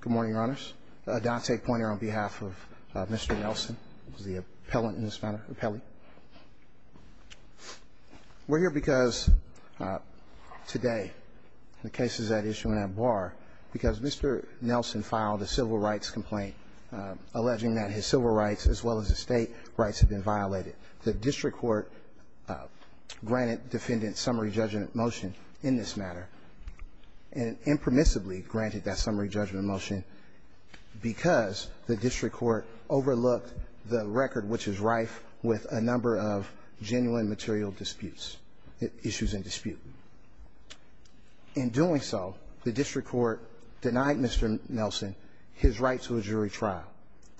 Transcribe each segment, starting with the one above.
Good morning, Your Honors. Adante Poynter on behalf of Mr. Nelson, who is the appellant in this matter, appellee. We're here because today, the case is at issue and at bar because Mr. Nelson filed a civil rights complaint alleging that his civil rights as well as his state rights have been violated. The district court granted defendant summary judgment motion in this matter and impermissibly granted that summary judgment motion because the district court overlooked the record which is rife with a number of genuine material disputes, issues in dispute. In doing so, the district court denied Mr. Nelson his right to a jury trial.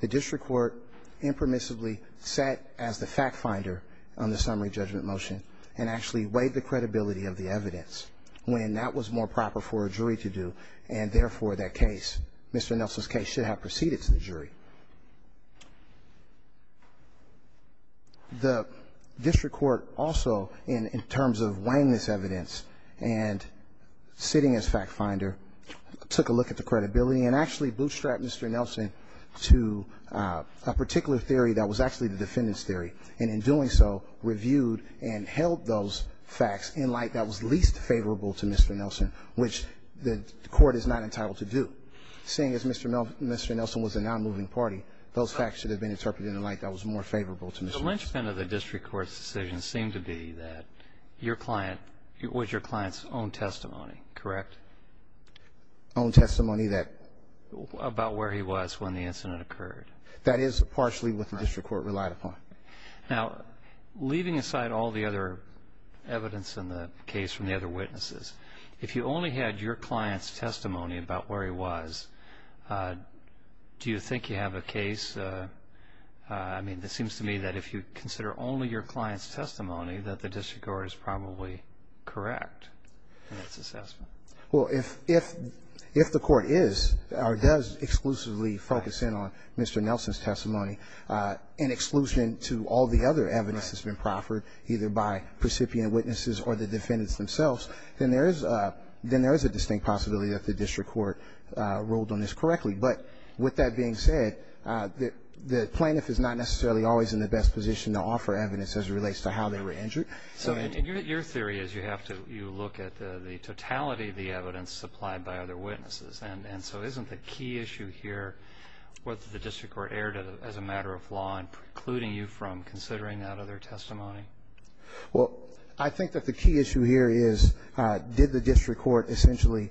The district court impermissibly sat as the fact finder on the summary judgment motion and actually weighed the credibility of the evidence when that was more proper for a jury to do and therefore that case, Mr. Nelson's case, should have proceeded to the jury. The district court also, in terms of weighing this evidence and sitting as fact finder, took a look at the credibility and actually bootstrapped Mr. Nelson to a particular theory that was actually the defendant's theory and in doing so, reviewed and held those facts in light that was least favorable to Mr. Nelson, which the court is not entitled to do. Seeing as Mr. Nelson was a nonmoving party, those facts should have been interpreted in light that was more favorable to Mr. Nelson. The linchpin of the district court's decision seemed to be that your client was your client's own testimony, correct? Own testimony that? About where he was when the incident occurred. That is partially what the district court relied upon. Now, leaving aside all the other evidence in the case from the other witnesses, if you only had your client's testimony about where he was, do you think you have a case, I mean, that seems to me that if you consider only your client's testimony that the district court is probably correct in its assessment? Well, if the court is or does exclusively focus in on Mr. Nelson's testimony, in exclusion to all the other evidence that's been proffered either by recipient witnesses or the defendants themselves, then there is a distinct possibility that the district court ruled on this correctly. But with that being said, the plaintiff is not necessarily always in the best position to offer evidence as it relates to how they were injured. And your theory is you have to look at the totality of the evidence supplied by other witnesses. And so isn't the key issue here what the district court erred as a matter of law in precluding you from considering that other testimony? Well, I think that the key issue here is did the district court essentially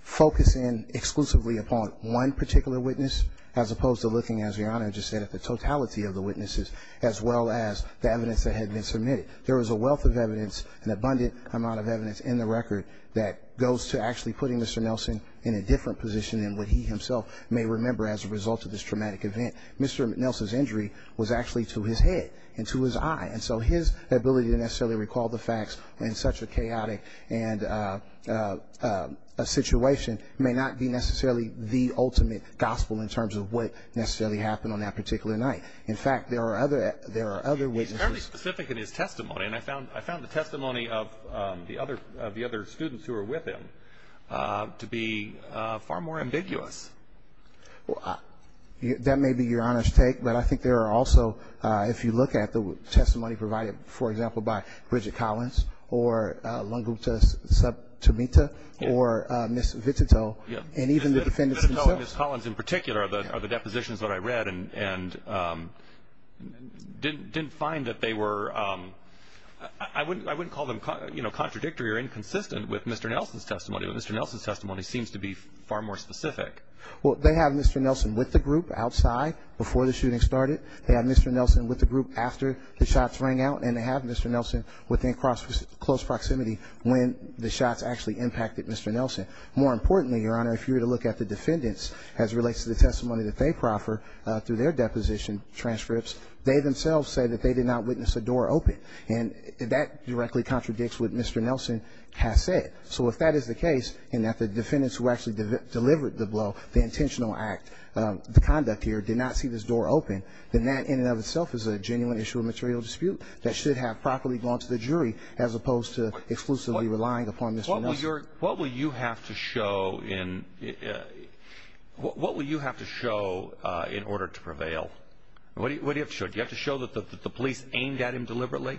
focus in exclusively upon one particular witness as opposed to looking, as Your Honor just said, at the totality of the witnesses as well as the evidence that had been submitted. There is a wealth of evidence, an abundant amount of evidence in the record that goes to actually putting Mr. Nelson in a different position than what he himself may remember as a result of this traumatic event. Mr. Nelson's injury was actually to his head and to his eye. And so his ability to necessarily recall the facts in such a chaotic and a situation may not be necessarily the ultimate gospel in terms of what necessarily happened on that particular night. In fact, there are other witnesses. Apparently specific in his testimony. And I found the testimony of the other students who were with him to be far more ambiguous. That may be Your Honor's take. But I think there are also, if you look at the testimony provided, for example, by Bridget Collins or Lunguta Subtimita or Ms. Vitito and even the defendants themselves. Ms. Vitito and Ms. Collins in particular are the depositions that I read and didn't find that they were, I wouldn't call them contradictory or inconsistent with Mr. Nelson's testimony. But Mr. Nelson's testimony seems to be far more specific. Well, they have Mr. Nelson with the group outside before the shooting started. They have Mr. Nelson with the group after the shots rang out. And they have Mr. Nelson within close proximity when the shots actually impacted Mr. Nelson. More importantly, Your Honor, if you were to look at the defendants as it relates to the testimony that they proffer through their deposition transcripts, they themselves say that they did not witness a door open. And that directly contradicts what Mr. Nelson has said. So if that is the case and that the defendants who actually delivered the blow, the intentional act, the conduct here, did not see this door open, then that in and of itself is a genuine issue of material dispute that should have properly gone to the jury as opposed to exclusively relying upon Mr. Nelson. What will you have to show in order to prevail? What do you have to show? Do you have to show that the police aimed at him deliberately?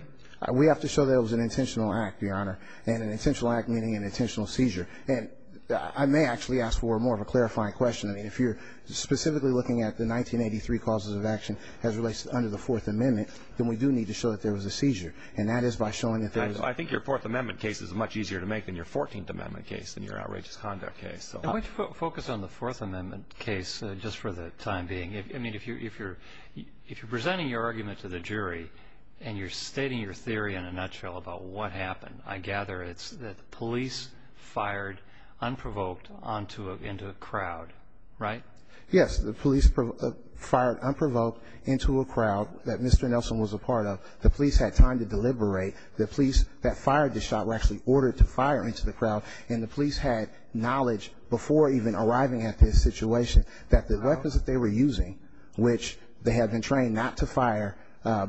We have to show that it was an intentional act, Your Honor, and an intentional act meaning an intentional seizure. And I may actually ask for more of a clarifying question. I mean, if you're specifically looking at the 1983 causes of action as it relates under the Fourth Amendment, then we do need to show that there was a seizure. And that is by showing that there was – I think your Fourth Amendment case is much easier to make than your Fourteenth Amendment case and your outrageous conduct case. Why don't you focus on the Fourth Amendment case just for the time being? I mean, if you're presenting your argument to the jury and you're stating your theory in a nutshell about what happened, I gather it's that the police fired unprovoked into a crowd, right? Yes. The police fired unprovoked into a crowd that Mr. Nelson was a part of. The police had time to deliberate. The police that fired the shot were actually ordered to fire into the crowd. And the police had knowledge before even arriving at this situation that the police were using, which they had been trained not to fire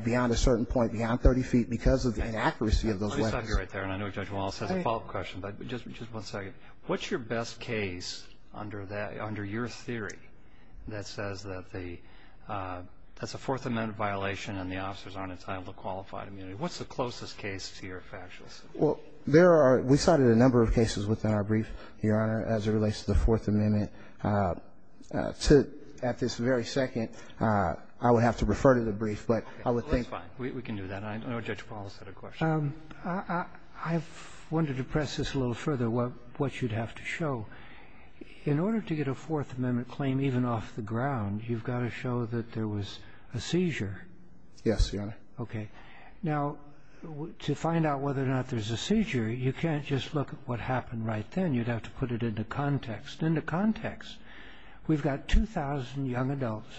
beyond a certain point, beyond 30 feet, because of the inaccuracy of those weapons. Let me stop you right there, and I know Judge Wallace has a follow-up question, but just one second. What's your best case under your theory that says that the – that's a Fourth Amendment violation and the officers aren't entitled to qualified immunity? What's the closest case to your factual statement? Well, there are – we cited a number of cases within our brief, Your Honor, as it relates to the Fourth Amendment. To – at this very second, I would have to refer to the brief, but I would think – Well, that's fine. We can do that. I know Judge Wallace had a question. I've wanted to press this a little further, what you'd have to show. In order to get a Fourth Amendment claim even off the ground, you've got to show that there was a seizure. Yes, Your Honor. Okay. Now, to find out whether or not there's a seizure, you can't just look at what happened right then. You'd have to put it into context. Into context, we've got 2,000 young adults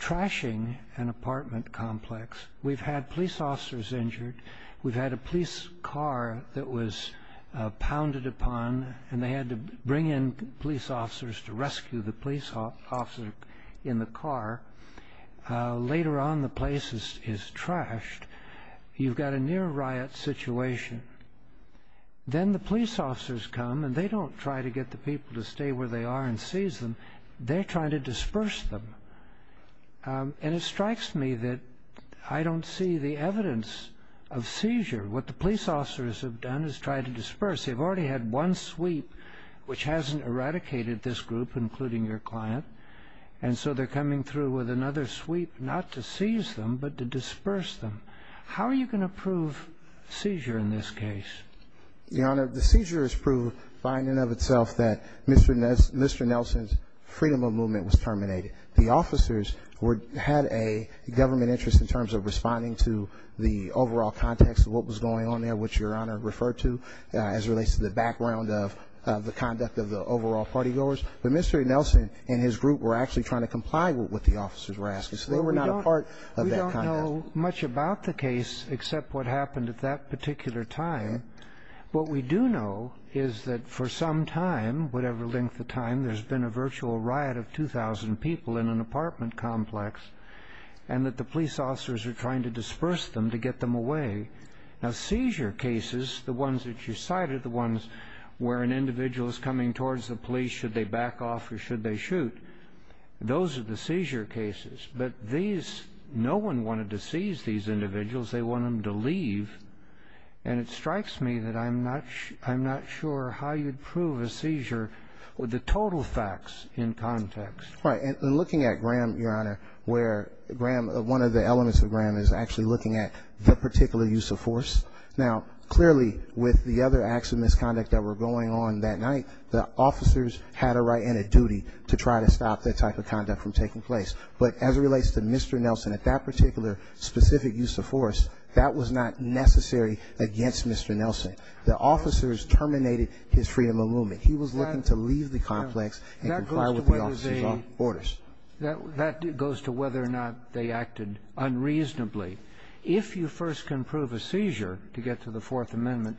trashing an apartment complex. We've had police officers injured. We've had a police car that was pounded upon, and they had to bring in police officers to rescue the police officer in the car. Later on, the place is trashed. You've got a near-riot situation. Then the police officers come, and they don't try to get the people to stay where they are and seize them. They try to disperse them. And it strikes me that I don't see the evidence of seizure. What the police officers have done is try to disperse. They've already had one sweep, which hasn't eradicated this group, including your client, and so they're coming through with another sweep, not to seize them, but to disperse them. How are you going to prove seizure in this case? Your Honor, the seizure has proved by and in of itself that Mr. Nelson's freedom of movement was terminated. The officers had a government interest in terms of responding to the overall context of what was going on there, which Your Honor referred to, as it relates to the background of the conduct of the overall partygoers. But Mr. Nelson and his group were actually trying to comply with what the officers were asking. So they were not a part of that conduct. I don't know much about the case except what happened at that particular time. What we do know is that for some time, whatever length of time, there's been a virtual riot of 2,000 people in an apartment complex and that the police officers are trying to disperse them to get them away. Now, seizure cases, the ones that you cited, the ones where an individual is coming towards the police, should they back off or should they shoot, those are the seizure cases. But these, no one wanted to seize these individuals. They want them to leave. And it strikes me that I'm not sure how you'd prove a seizure with the total facts in context. Right. And looking at Graham, Your Honor, where Graham, one of the elements of Graham is actually looking at the particular use of force. Now, clearly, with the other acts of misconduct that were going on that night, the officers had a right and a duty to try to stop that type of conduct from taking place. But as it relates to Mr. Nelson at that particular specific use of force, that was not necessary against Mr. Nelson. The officers terminated his freedom of movement. He was looking to leave the complex and comply with the officer's orders. That goes to whether or not they acted unreasonably. If you first can prove a seizure to get to the Fourth Amendment,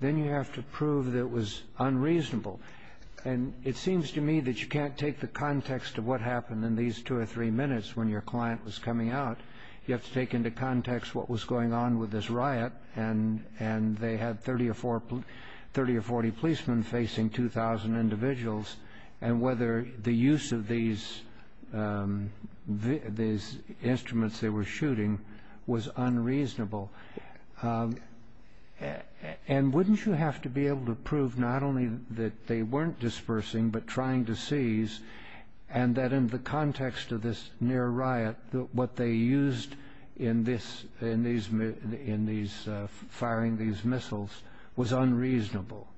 then you have to prove that it was unreasonable. And it seems to me that you can't take the context of what happened in these two or three minutes when your client was coming out. You have to take into context what was going on with this riot, and they had 30 or 40 policemen facing 2,000 individuals, and whether the use of these instruments they were shooting was unreasonable. And wouldn't you have to be able to prove not only that they weren't dispersing but trying to seize, and that in the context of this near-riot, what they used in these firing these missiles was unreasonable?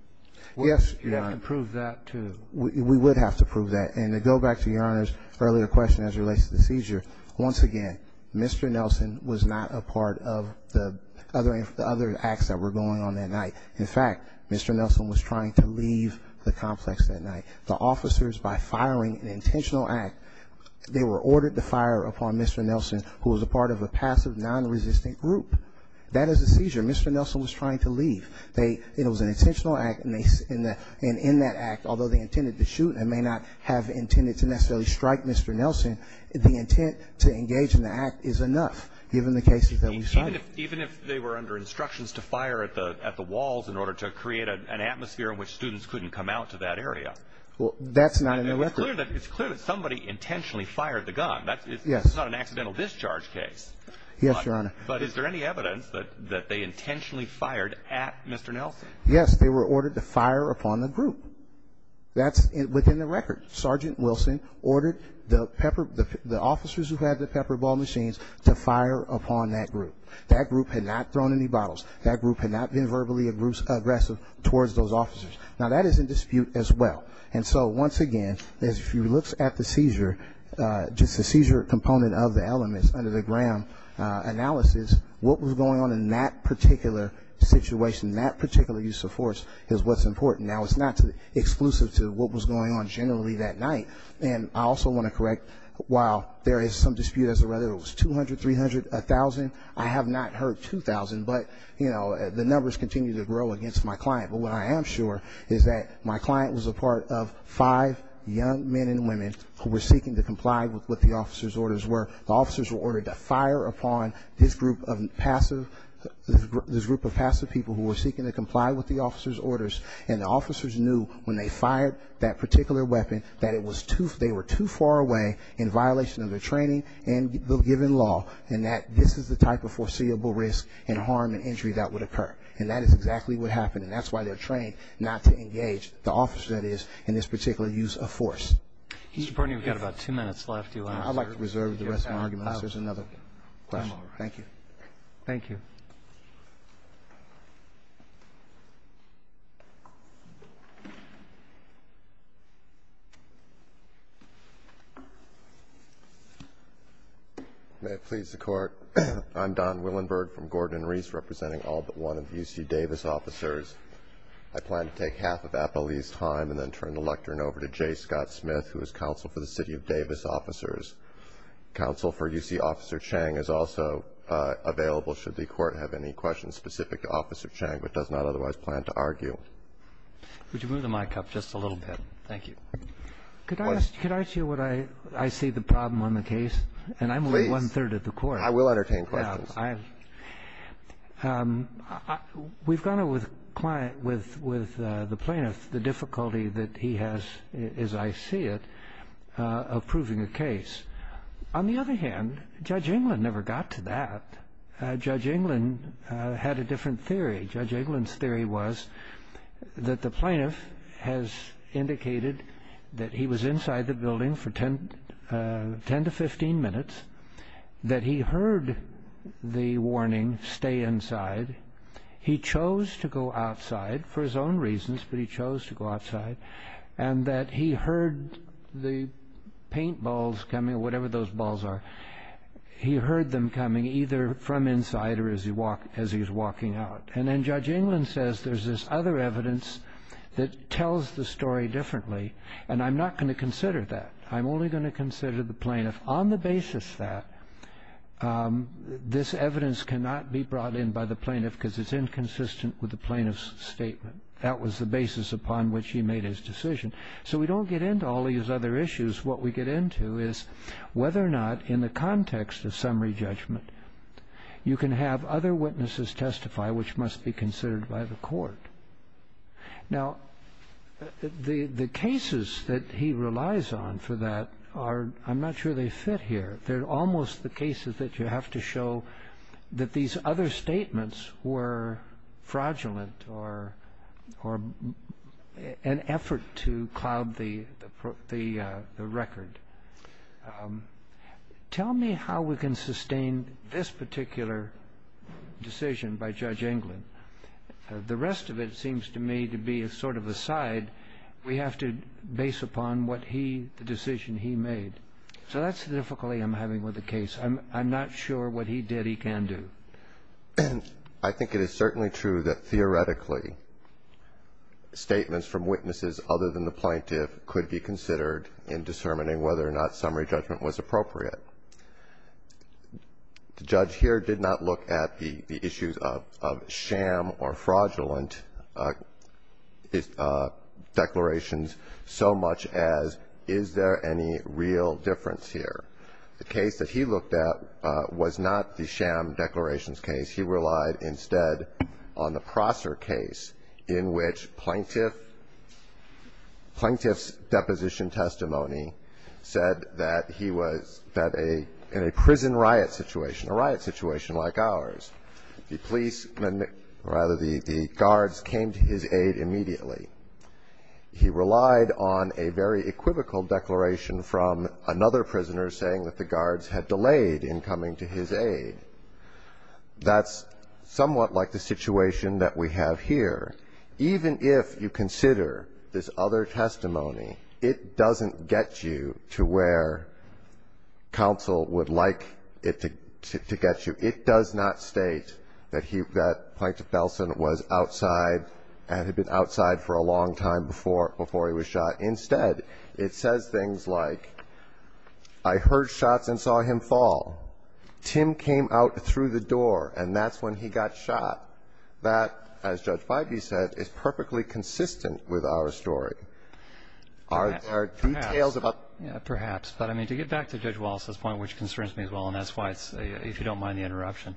Yes. You have to prove that, too. We would have to prove that. And to go back to Your Honor's earlier question as it relates to the seizure, once again, Mr. Nelson was not a part of the other acts that were going on that night. In fact, Mr. Nelson was trying to leave the complex that night. The officers, by firing an intentional act, they were ordered to fire upon Mr. Nelson, who was a part of a passive, non-resistant group. That is a seizure. Mr. Nelson was trying to leave. It was an intentional act, and in that act, although they intended to shoot and may not have intended to necessarily strike Mr. Nelson, the intent to engage in the act is enough, given the cases that we've seen. Even if they were under instructions to fire at the walls in order to create an atmosphere in which students couldn't come out to that area? Well, that's not in the record. It's clear that somebody intentionally fired the gun. Yes. That's not an accidental discharge case. Yes, Your Honor. But is there any evidence that they intentionally fired at Mr. Nelson? Yes. They were ordered to fire upon the group. That's within the record. Sergeant Wilson ordered the officers who had the pepper ball machines to fire upon that group. That group had not thrown any bottles. That group had not been verbally aggressive towards those officers. Now, that is in dispute as well. And so, once again, if you look at the seizure, just the seizure component of the elements under the Graham analysis, what was going on in that particular situation, that particular use of force, is what's important. Now, it's not exclusive to what was going on generally that night. And I also want to correct, while there is some dispute as to whether it was 200, 300, 1,000, I have not heard 2,000. But, you know, the numbers continue to grow against my client. But what I am sure is that my client was a part of five young men and women who were seeking to comply with what the officers' orders were. The officers were ordered to fire upon this group of passive people who were seeking to comply with the officers' orders. And the officers knew when they fired that particular weapon that it was too, they were too far away in violation of their training and the given law, and that this is the type of foreseeable risk and harm and injury that would occur. And that is exactly what happened. And that's why they're trained not to engage the officer that is in this particular use of force. Mr. Perney, we've got about two minutes left. I'd like to reserve the rest of my argument. There's another question. Thank you. Thank you. Thank you. May it please the Court. I'm Don Willenberg from Gordon and Reese, representing all but one of the UC Davis officers. I plan to take half of Appalee's time and then turn the lectern over to Jay Scott Smith, who is counsel for the city of Davis officers. Counsel for UC Officer Chang is also available should the Court have any questions specific to Officer Chang, but does not otherwise plan to argue. Would you move the mic up just a little bit? Thank you. Could I ask you what I see the problem on the case? Please. And I'm only one-third of the Court. I will entertain questions. We've gone over with the plaintiff the difficulty that he has, as I see it, of proving a case. On the other hand, Judge Englund never got to that. Judge Englund had a different theory. Judge Englund's theory was that the plaintiff has indicated that he was inside the building for 10 to 15 minutes, that he heard the warning, stay inside. He chose to go outside for his own reasons, but he chose to go outside, and that he heard the paint balls coming, whatever those balls are. He heard them coming either from inside or as he was walking out. And then Judge Englund says there's this other evidence that tells the story differently, and I'm not going to consider that. I'm only going to consider the plaintiff on the basis that this evidence cannot be brought in by the plaintiff because it's inconsistent with the plaintiff's statement. That was the basis upon which he made his decision. So we don't get into all these other issues. What we get into is whether or not, in the context of summary judgment, you can have other witnesses testify which must be considered by the Court. Now, the cases that he relies on for that, I'm not sure they fit here. They're almost the cases that you have to show that these other statements were fraudulent or an effort to cloud the record. Tell me how we can sustain this particular decision by Judge Englund. The rest of it seems to me to be a sort of aside. We have to base upon what he, the decision he made. So that's the difficulty I'm having with the case. I'm not sure what he did he can do. I think it is certainly true that theoretically statements from witnesses other than the plaintiff could be considered in discerning whether or not summary judgment was appropriate. The judge here did not look at the issues of sham or fraudulent declarations so much as is there any real difference here. The case that he looked at was not the sham declarations case. He relied instead on the Prosser case in which plaintiff's deposition testimony said that he was in a prison riot situation, a riot situation like ours. The guards came to his aid immediately. He relied on a very equivocal declaration from another prisoner saying that the guards had delayed in coming to his aid. That's somewhat like the situation that we have here. Even if you consider this other testimony, it doesn't get you to where counsel would like it to get you. It does not state that he, that Plaintiff Belson was outside and had been outside for a long time before he was shot. Instead, it says things like, I heard shots and saw him fall. Tim came out through the door and that's when he got shot. That, as Judge Bybee said, is perfectly consistent with our story. Our details about the case. Perhaps. But to get back to Judge Wallace's point, which concerns me as well, and that's why, if you don't mind the interruption,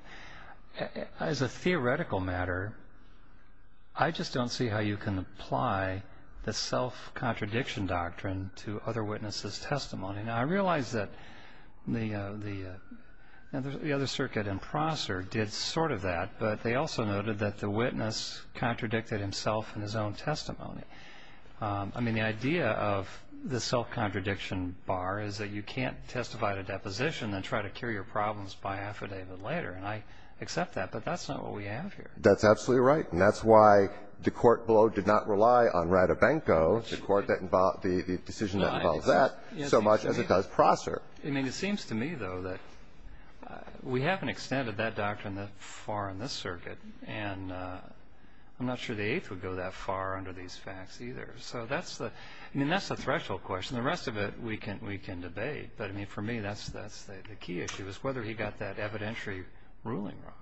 as a theoretical matter, I just don't see how you can apply the self-contradiction doctrine to other witnesses' testimony. Now, I realize that the other circuit in Prosser did sort of that, but they also noted that the witness contradicted himself in his own testimony. I mean, the idea of the self-contradiction bar is that you can't testify to deposition and try to cure your problems by affidavit later. And I accept that, but that's not what we have here. That's absolutely right. And that's why the court below did not rely on Radobanko, the decision that involves that, so much as it does Prosser. I mean, it seems to me, though, that we haven't extended that doctrine that far in this circuit, and I'm not sure the Eighth would go that far under these facts either. So that's the threshold question. The rest of it we can debate. But, I mean, for me, that's the key issue, is whether he got that evidentiary ruling wrong.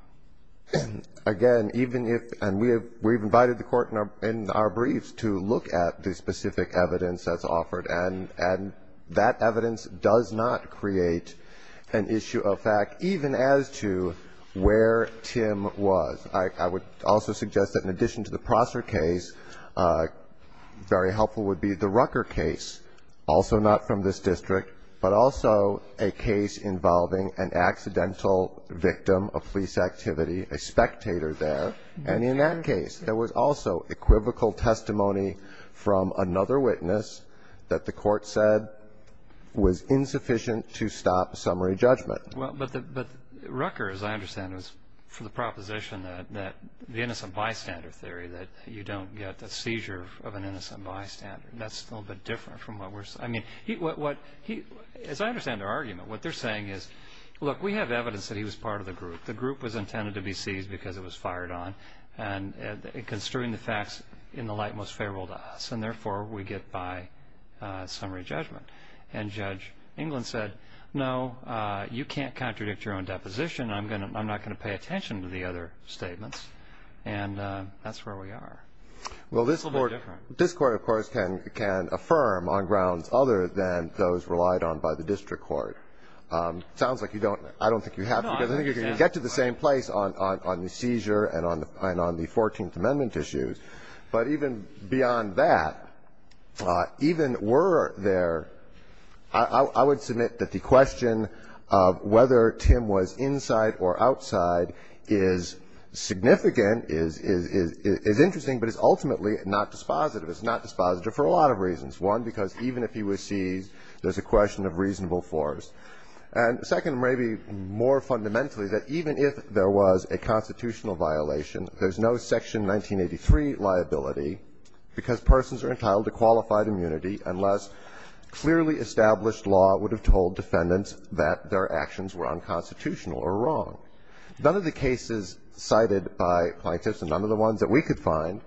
Again, even if, and we have invited the Court in our briefs to look at the specific evidence that's offered, and that evidence does not create an issue of fact, even as to where Tim was. I would also suggest that in addition to the Prosser case, very helpful would be the Rucker case, also not from this district, but also a case involving an accidental victim of police activity, a spectator there. And in that case, there was also equivocal testimony from another witness that the Court said was insufficient to stop a summary judgment. Well, but Rucker, as I understand, was for the proposition that the innocent bystander theory, that you don't get the seizure of an innocent bystander. That's a little bit different from what we're seeing. I mean, as I understand their argument, what they're saying is, look, we have evidence that he was part of the group. The group was intended to be seized because it was fired on, and construing the facts in the light most favorable to us, and therefore we get by summary judgment. And Judge England said, no, you can't contradict your own deposition. I'm not going to pay attention to the other statements. And that's where we are. Well, this Court, of course, can affirm on grounds other than those relied on by the district court. It sounds like you don't. I don't think you have. I think you can get to the same place on the seizure and on the 14th Amendment issues, but even beyond that, even were there, I would submit that the question of whether Tim was inside or outside is significant, is interesting, but it's also ultimately not dispositive. It's not dispositive for a lot of reasons. One, because even if he was seized, there's a question of reasonable force. And second, maybe more fundamentally, that even if there was a constitutional violation, there's no Section 1983 liability, because persons are entitled to qualified immunity unless clearly established law would have told defendants that their actions were unconstitutional or wrong. None of the cases cited by plaintiffs, and none of the ones that we could find,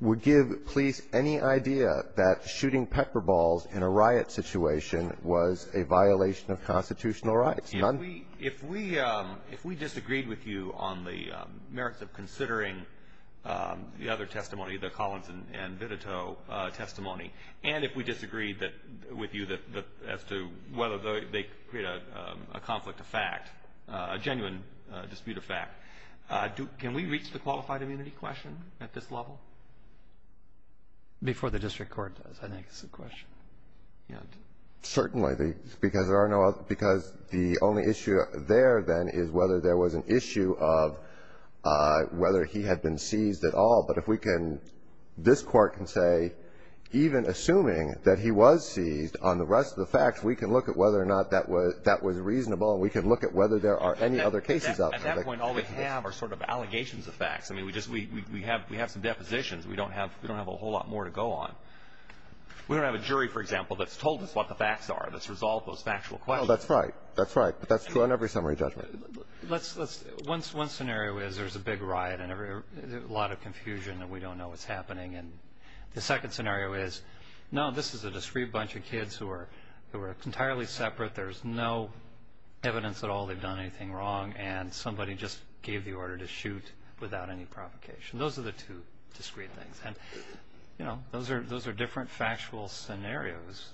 would give police any idea that shooting pepper balls in a riot situation was a violation of constitutional rights, none. If we disagreed with you on the merits of considering the other testimony, the Collins and Vitito testimony, and if we disagreed with you as to whether they create a conflict of fact, a genuine dispute of fact, can we reach the qualified immunity question at this level? Before the district court does, I think, is the question. Certainly, because the only issue there, then, is whether there was an issue of whether he had been seized at all. But if we can, this Court can say, even assuming that he was seized on the rest of the facts, we can look at whether or not that was reasonable, and we can look at whether there are any other cases out there. At that point, all we have are sort of allegations of facts. I mean, we just we have some depositions. We don't have a whole lot more to go on. We don't have a jury, for example, that's told us what the facts are, that's resolved those factual questions. Well, that's right. That's right. But that's true on every summary judgment. Let's one scenario is there's a big riot and a lot of confusion and we don't know what's happening. And the second scenario is, no, this is a discreet bunch of kids who are entirely separate, there's no evidence at all they've done anything wrong, and somebody just gave the order to shoot without any provocation. Those are the two discreet things. And, you know, those are different factual scenarios.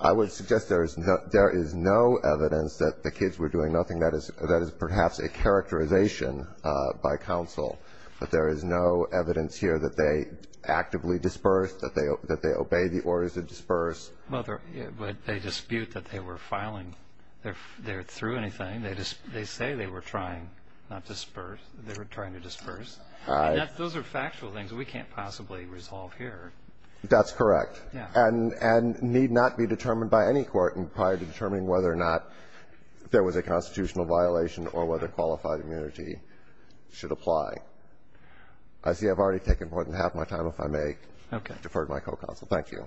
I would suggest there is no evidence that the kids were doing nothing. That is perhaps a characterization by counsel. But there is no evidence here that they actively disperse, that they obey the orders to disperse. Well, but they dispute that they were filing. They're through anything. They say they were trying not to disperse. They were trying to disperse. I mean, those are factual things. We can't possibly resolve here. That's correct. And need not be determined by any court in prior to determining whether or not there was a constitutional violation or whether qualified immunity should apply. I see I've already taken more than half my time. If I may defer to my co-counsel. Thank you.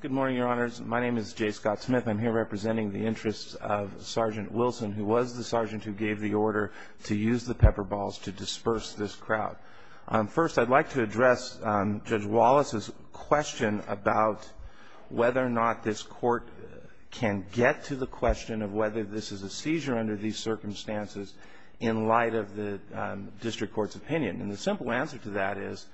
Good morning, Your Honors. My name is Jay Scott Smith. I'm here representing the interests of Sergeant Wilson, who was the sergeant who gave the order to use the pepper balls to disperse this crowd. First, I'd like to address Judge Wallace's question about whether or not this Court can get to the question of whether this is a seizure under these circumstances in light of the district court's opinion. And the simple answer to that is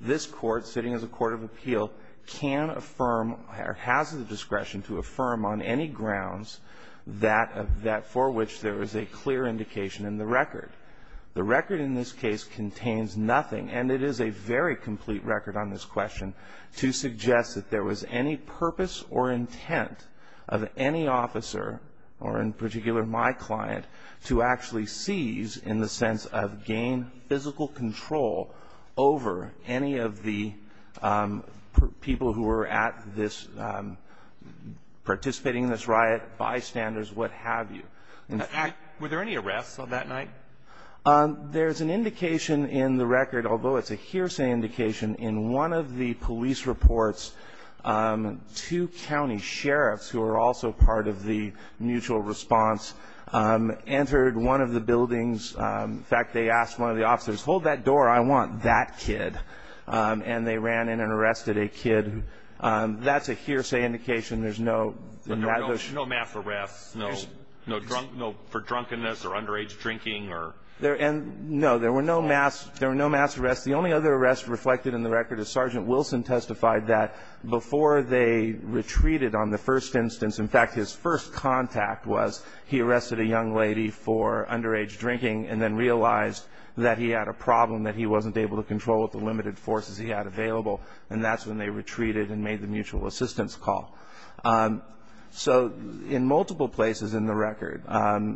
this Court, sitting as a court of appeal, can affirm or has the discretion to affirm on any grounds that for which there is a clear indication in the record. The record in this case contains nothing, and it is a very complete record on this question, to suggest that there was any purpose or intent of any officer, or in particular my client, to actually seize in the sense of gain physical control over any of the people who were at this, participating in this riot, bystanders, what have you. Were there any arrests on that night? There's an indication in the record, although it's a hearsay indication, in one of the police reports, two county sheriffs, who are also part of the mutual response, entered one of the buildings. In fact, they asked one of the officers, hold that door. I want that kid. And they ran in and arrested a kid. That's a hearsay indication. There were no mass arrests for drunkenness or underage drinking? No. There were no mass arrests. The only other arrest reflected in the record is Sergeant Wilson testified that before they retreated on the first instance, in fact, his first contact was he arrested a young lady for underage drinking and then realized that he had a problem, that he wasn't able to control the limited forces he had available, and that's when they made the initial assistance call. So in multiple places in the record,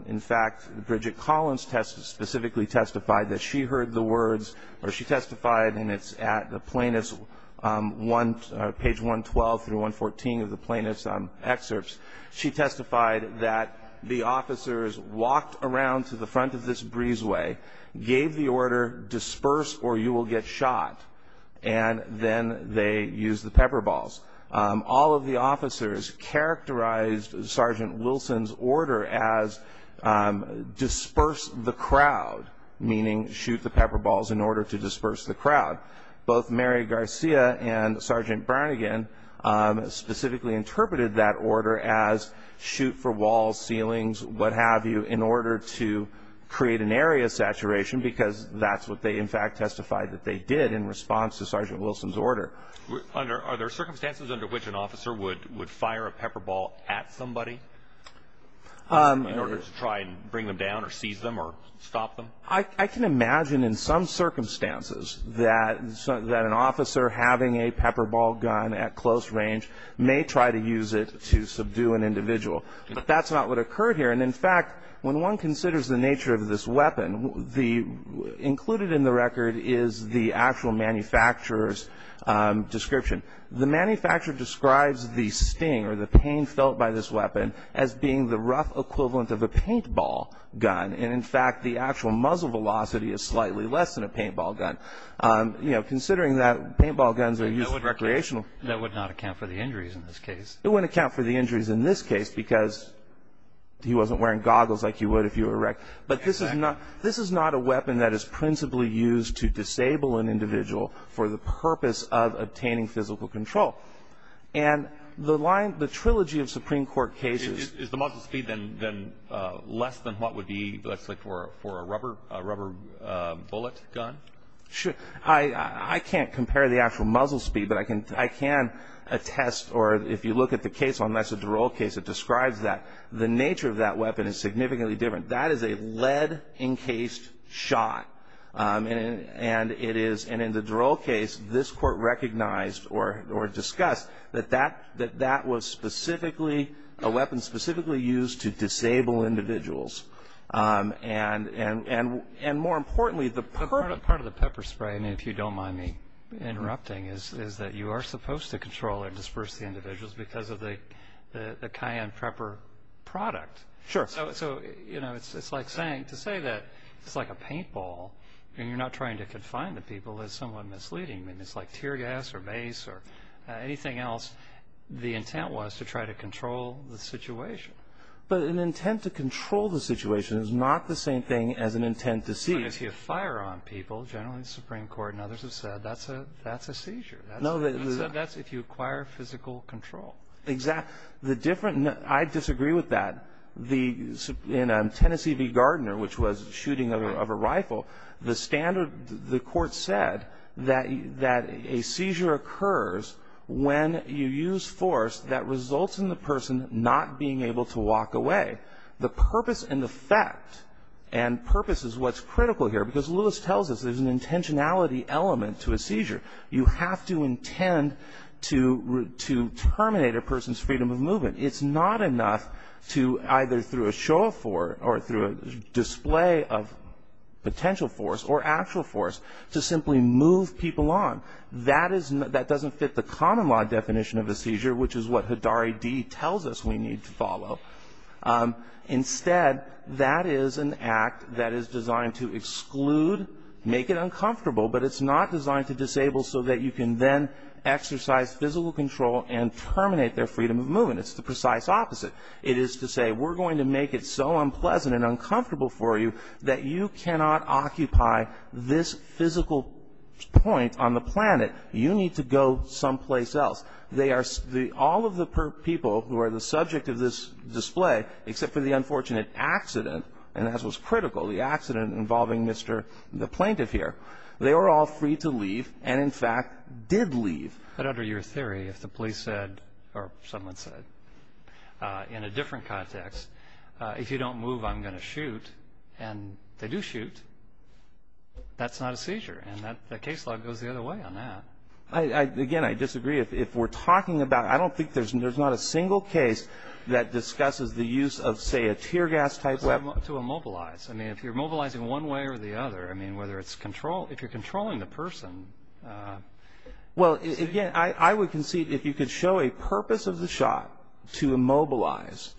in fact, Bridget Collins specifically testified that she heard the words, or she testified, and it's at the plaintiff's page 112 through 114 of the plaintiff's excerpts. She testified that the officers walked around to the front of this breezeway, gave the order, disperse or you will get shot. And then they used the pepper balls. All of the officers characterized Sergeant Wilson's order as disperse the crowd, meaning shoot the pepper balls in order to disperse the crowd. Both Mary Garcia and Sergeant Brannigan specifically interpreted that order as shoot for walls, ceilings, what have you, in order to create an area saturation because that's what they, in fact, testified that they did in response to Sergeant Wilson's order. Are there circumstances under which an officer would fire a pepper ball at somebody in order to try and bring them down or seize them or stop them? I can imagine in some circumstances that an officer having a pepper ball gun at close range may try to use it to subdue an individual, but that's not what occurred here. And, in fact, when one considers the nature of this weapon, included in the record is the actual manufacturer's description. The manufacturer describes the sting or the pain felt by this weapon as being the rough equivalent of a paintball gun. And, in fact, the actual muzzle velocity is slightly less than a paintball gun. You know, considering that paintball guns are used for recreational purposes. That would not account for the injuries in this case. It wouldn't account for the injuries in this case because he wasn't wearing goggles like you would if you were wrecked. But this is not a weapon that is principally used to disable an individual for the purpose of obtaining physical control. And the line, the trilogy of Supreme Court cases. Is the muzzle speed then less than what would be, let's say, for a rubber bullet gun? I can't compare the actual muzzle speed, but I can attest, or if you look at the case, unless it's a Durrell case, it describes that. The nature of that weapon is significantly different. That is a lead encased shot. And it is, and in the Durrell case, this Court recognized or discussed that that was specifically, a weapon specifically used to disable individuals. And more importantly, the purpose. Part of the pepper spray, and if you don't mind me interrupting, is that you are supposed to control and disperse the individuals because of the cayenne pepper product. Sure. So, you know, it's like saying, to say that it's like a paintball, and you're not trying to confine the people is somewhat misleading. I mean, it's like tear gas or mace or anything else. The intent was to try to control the situation. But an intent to control the situation is not the same thing as an intent to seize. As you fire on people, generally the Supreme Court and others have said, that's a seizure. That's if you acquire physical control. Exactly. The different, and I disagree with that. In Tennessee v. Gardner, which was shooting of a rifle, the standard, the Court said that a seizure occurs when you use force that results in the person not being able to walk away. The purpose and the fact, and purpose is what's critical here, because Lewis tells us there's an intentionality element to a seizure. You have to intend to terminate a person's freedom of movement. It's not enough to either through a show of force or through a display of potential force or actual force to simply move people on. That doesn't fit the common law definition of a seizure, which is what Hidari D. tells us we need to follow. Instead, that is an act that is designed to exclude, make it uncomfortable, but it's not designed to disable so that you can then exercise physical control and terminate their freedom of movement. It's the precise opposite. It is to say, we're going to make it so unpleasant and uncomfortable for you that you cannot occupy this physical point on the planet. You need to go someplace else. All of the people who are the subject of this display, except for the unfortunate accident, and as was critical, the accident involving the plaintiff here, they were all free to leave and, in fact, did leave. But under your theory, if the police said, or someone said, in a different context, if you don't move, I'm going to shoot, and they do shoot, that's not a seizure, and the case law goes the other way on that. Again, I disagree. If we're talking about, I don't think there's not a single case that discusses the use of, say, a tear gas-type weapon. To immobilize. I mean, if you're mobilizing one way or the other, I mean, whether it's control, if you're controlling the person. Well, again, I would concede if you could show a purpose of the shot to immobilize,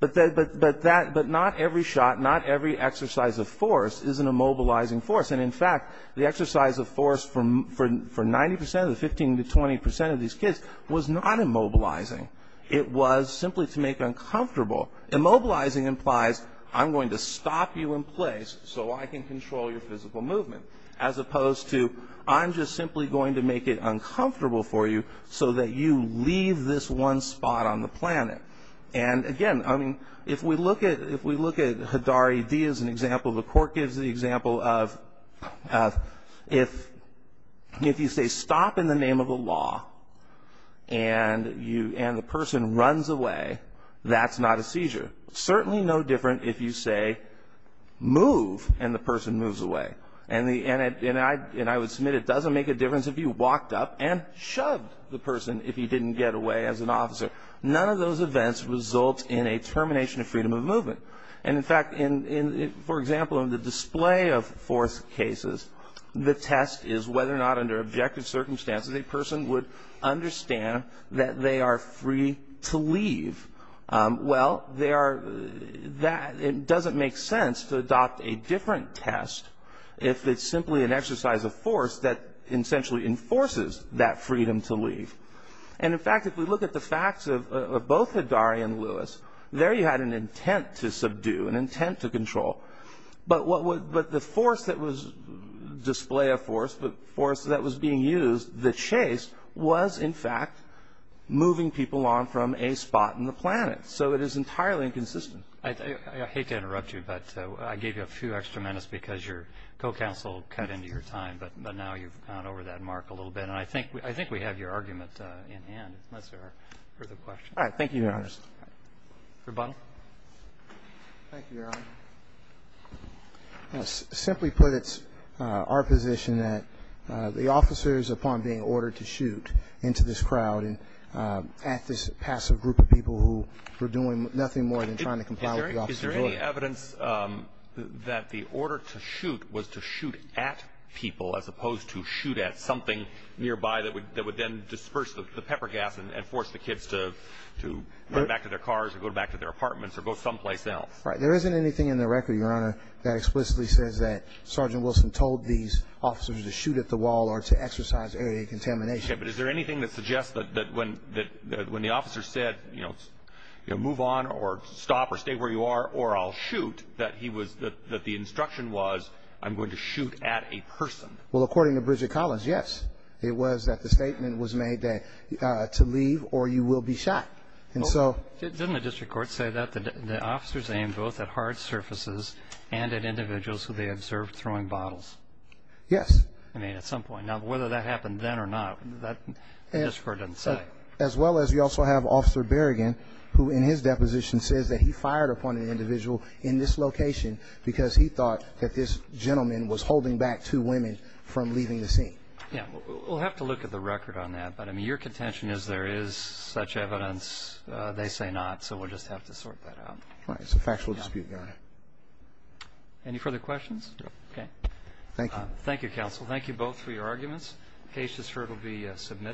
but not every shot, not every exercise of force is an immobilizing force. And, in fact, the exercise of force for 90 percent of the 15 to 20 percent of these kids was not immobilizing. It was simply to make uncomfortable. Immobilizing implies I'm going to stop you in place so I can control your physical movement, as opposed to I'm just simply going to make it uncomfortable for you so that you leave this one spot on the planet. And, again, I mean, if we look at Hadari D as an example, the court gives the example of if you say stop in the name of a law and the person runs away, that's not a seizure. Certainly no different if you say move and the person moves away. And I would submit it doesn't make a difference if you walked up and shoved the person if he didn't get away as an officer. But none of those events result in a termination of freedom of movement. And, in fact, for example, in the display of force cases, the test is whether or not under objective circumstances a person would understand that they are free to leave. Well, it doesn't make sense to adopt a different test if it's simply an exercise of force that essentially enforces that freedom to leave. And, in fact, if we look at the facts of both Hadari and Lewis, there you had an intent to subdue, an intent to control. But the force that was display of force, the force that was being used, the chase, was, in fact, moving people on from a spot on the planet. So it is entirely inconsistent. I hate to interrupt you, but I gave you a few extra minutes because your co-counsel cut into your time. But now you've gone over that mark a little bit. And I think we have your argument in hand, unless there are further questions. All right. Thank you, Your Honor. Rebuttal. Thank you, Your Honor. Simply put, it's our position that the officers, upon being ordered to shoot into this crowd and at this passive group of people who were doing nothing more than trying to comply with the officer's order. Is there any evidence that the order to shoot was to shoot at people as opposed to shoot at something nearby that would then disperse the pepper gas and force the kids to go back to their cars or go back to their apartments or go someplace else? Right. There isn't anything in the record, Your Honor, that explicitly says that Sergeant Wilson told these officers to shoot at the wall or to exercise area of contamination. Okay. But is there anything that suggests that when the officer said, you know, move on or stop or stay where you are or I'll shoot, that the instruction was I'm going to shoot at a person? Well, according to Bridget Collins, yes. It was that the statement was made to leave or you will be shot. Didn't the district court say that the officers aimed both at hard surfaces and at individuals who they observed throwing bottles? Yes. I mean, at some point. Now, whether that happened then or not, the district court didn't say. As well as we also have Officer Berrigan, who in his deposition says that he fired upon an individual in this location because he thought that this gentleman was holding back two women from leaving the scene. Yeah. We'll have to look at the record on that. But, I mean, your contention is there is such evidence. They say not. So we'll just have to sort that out. Right. It's a factual dispute, Your Honor. Any further questions? No. Okay. Thank you. Thank you, Counsel. Thank you both for your arguments. The case has heard will be submitted.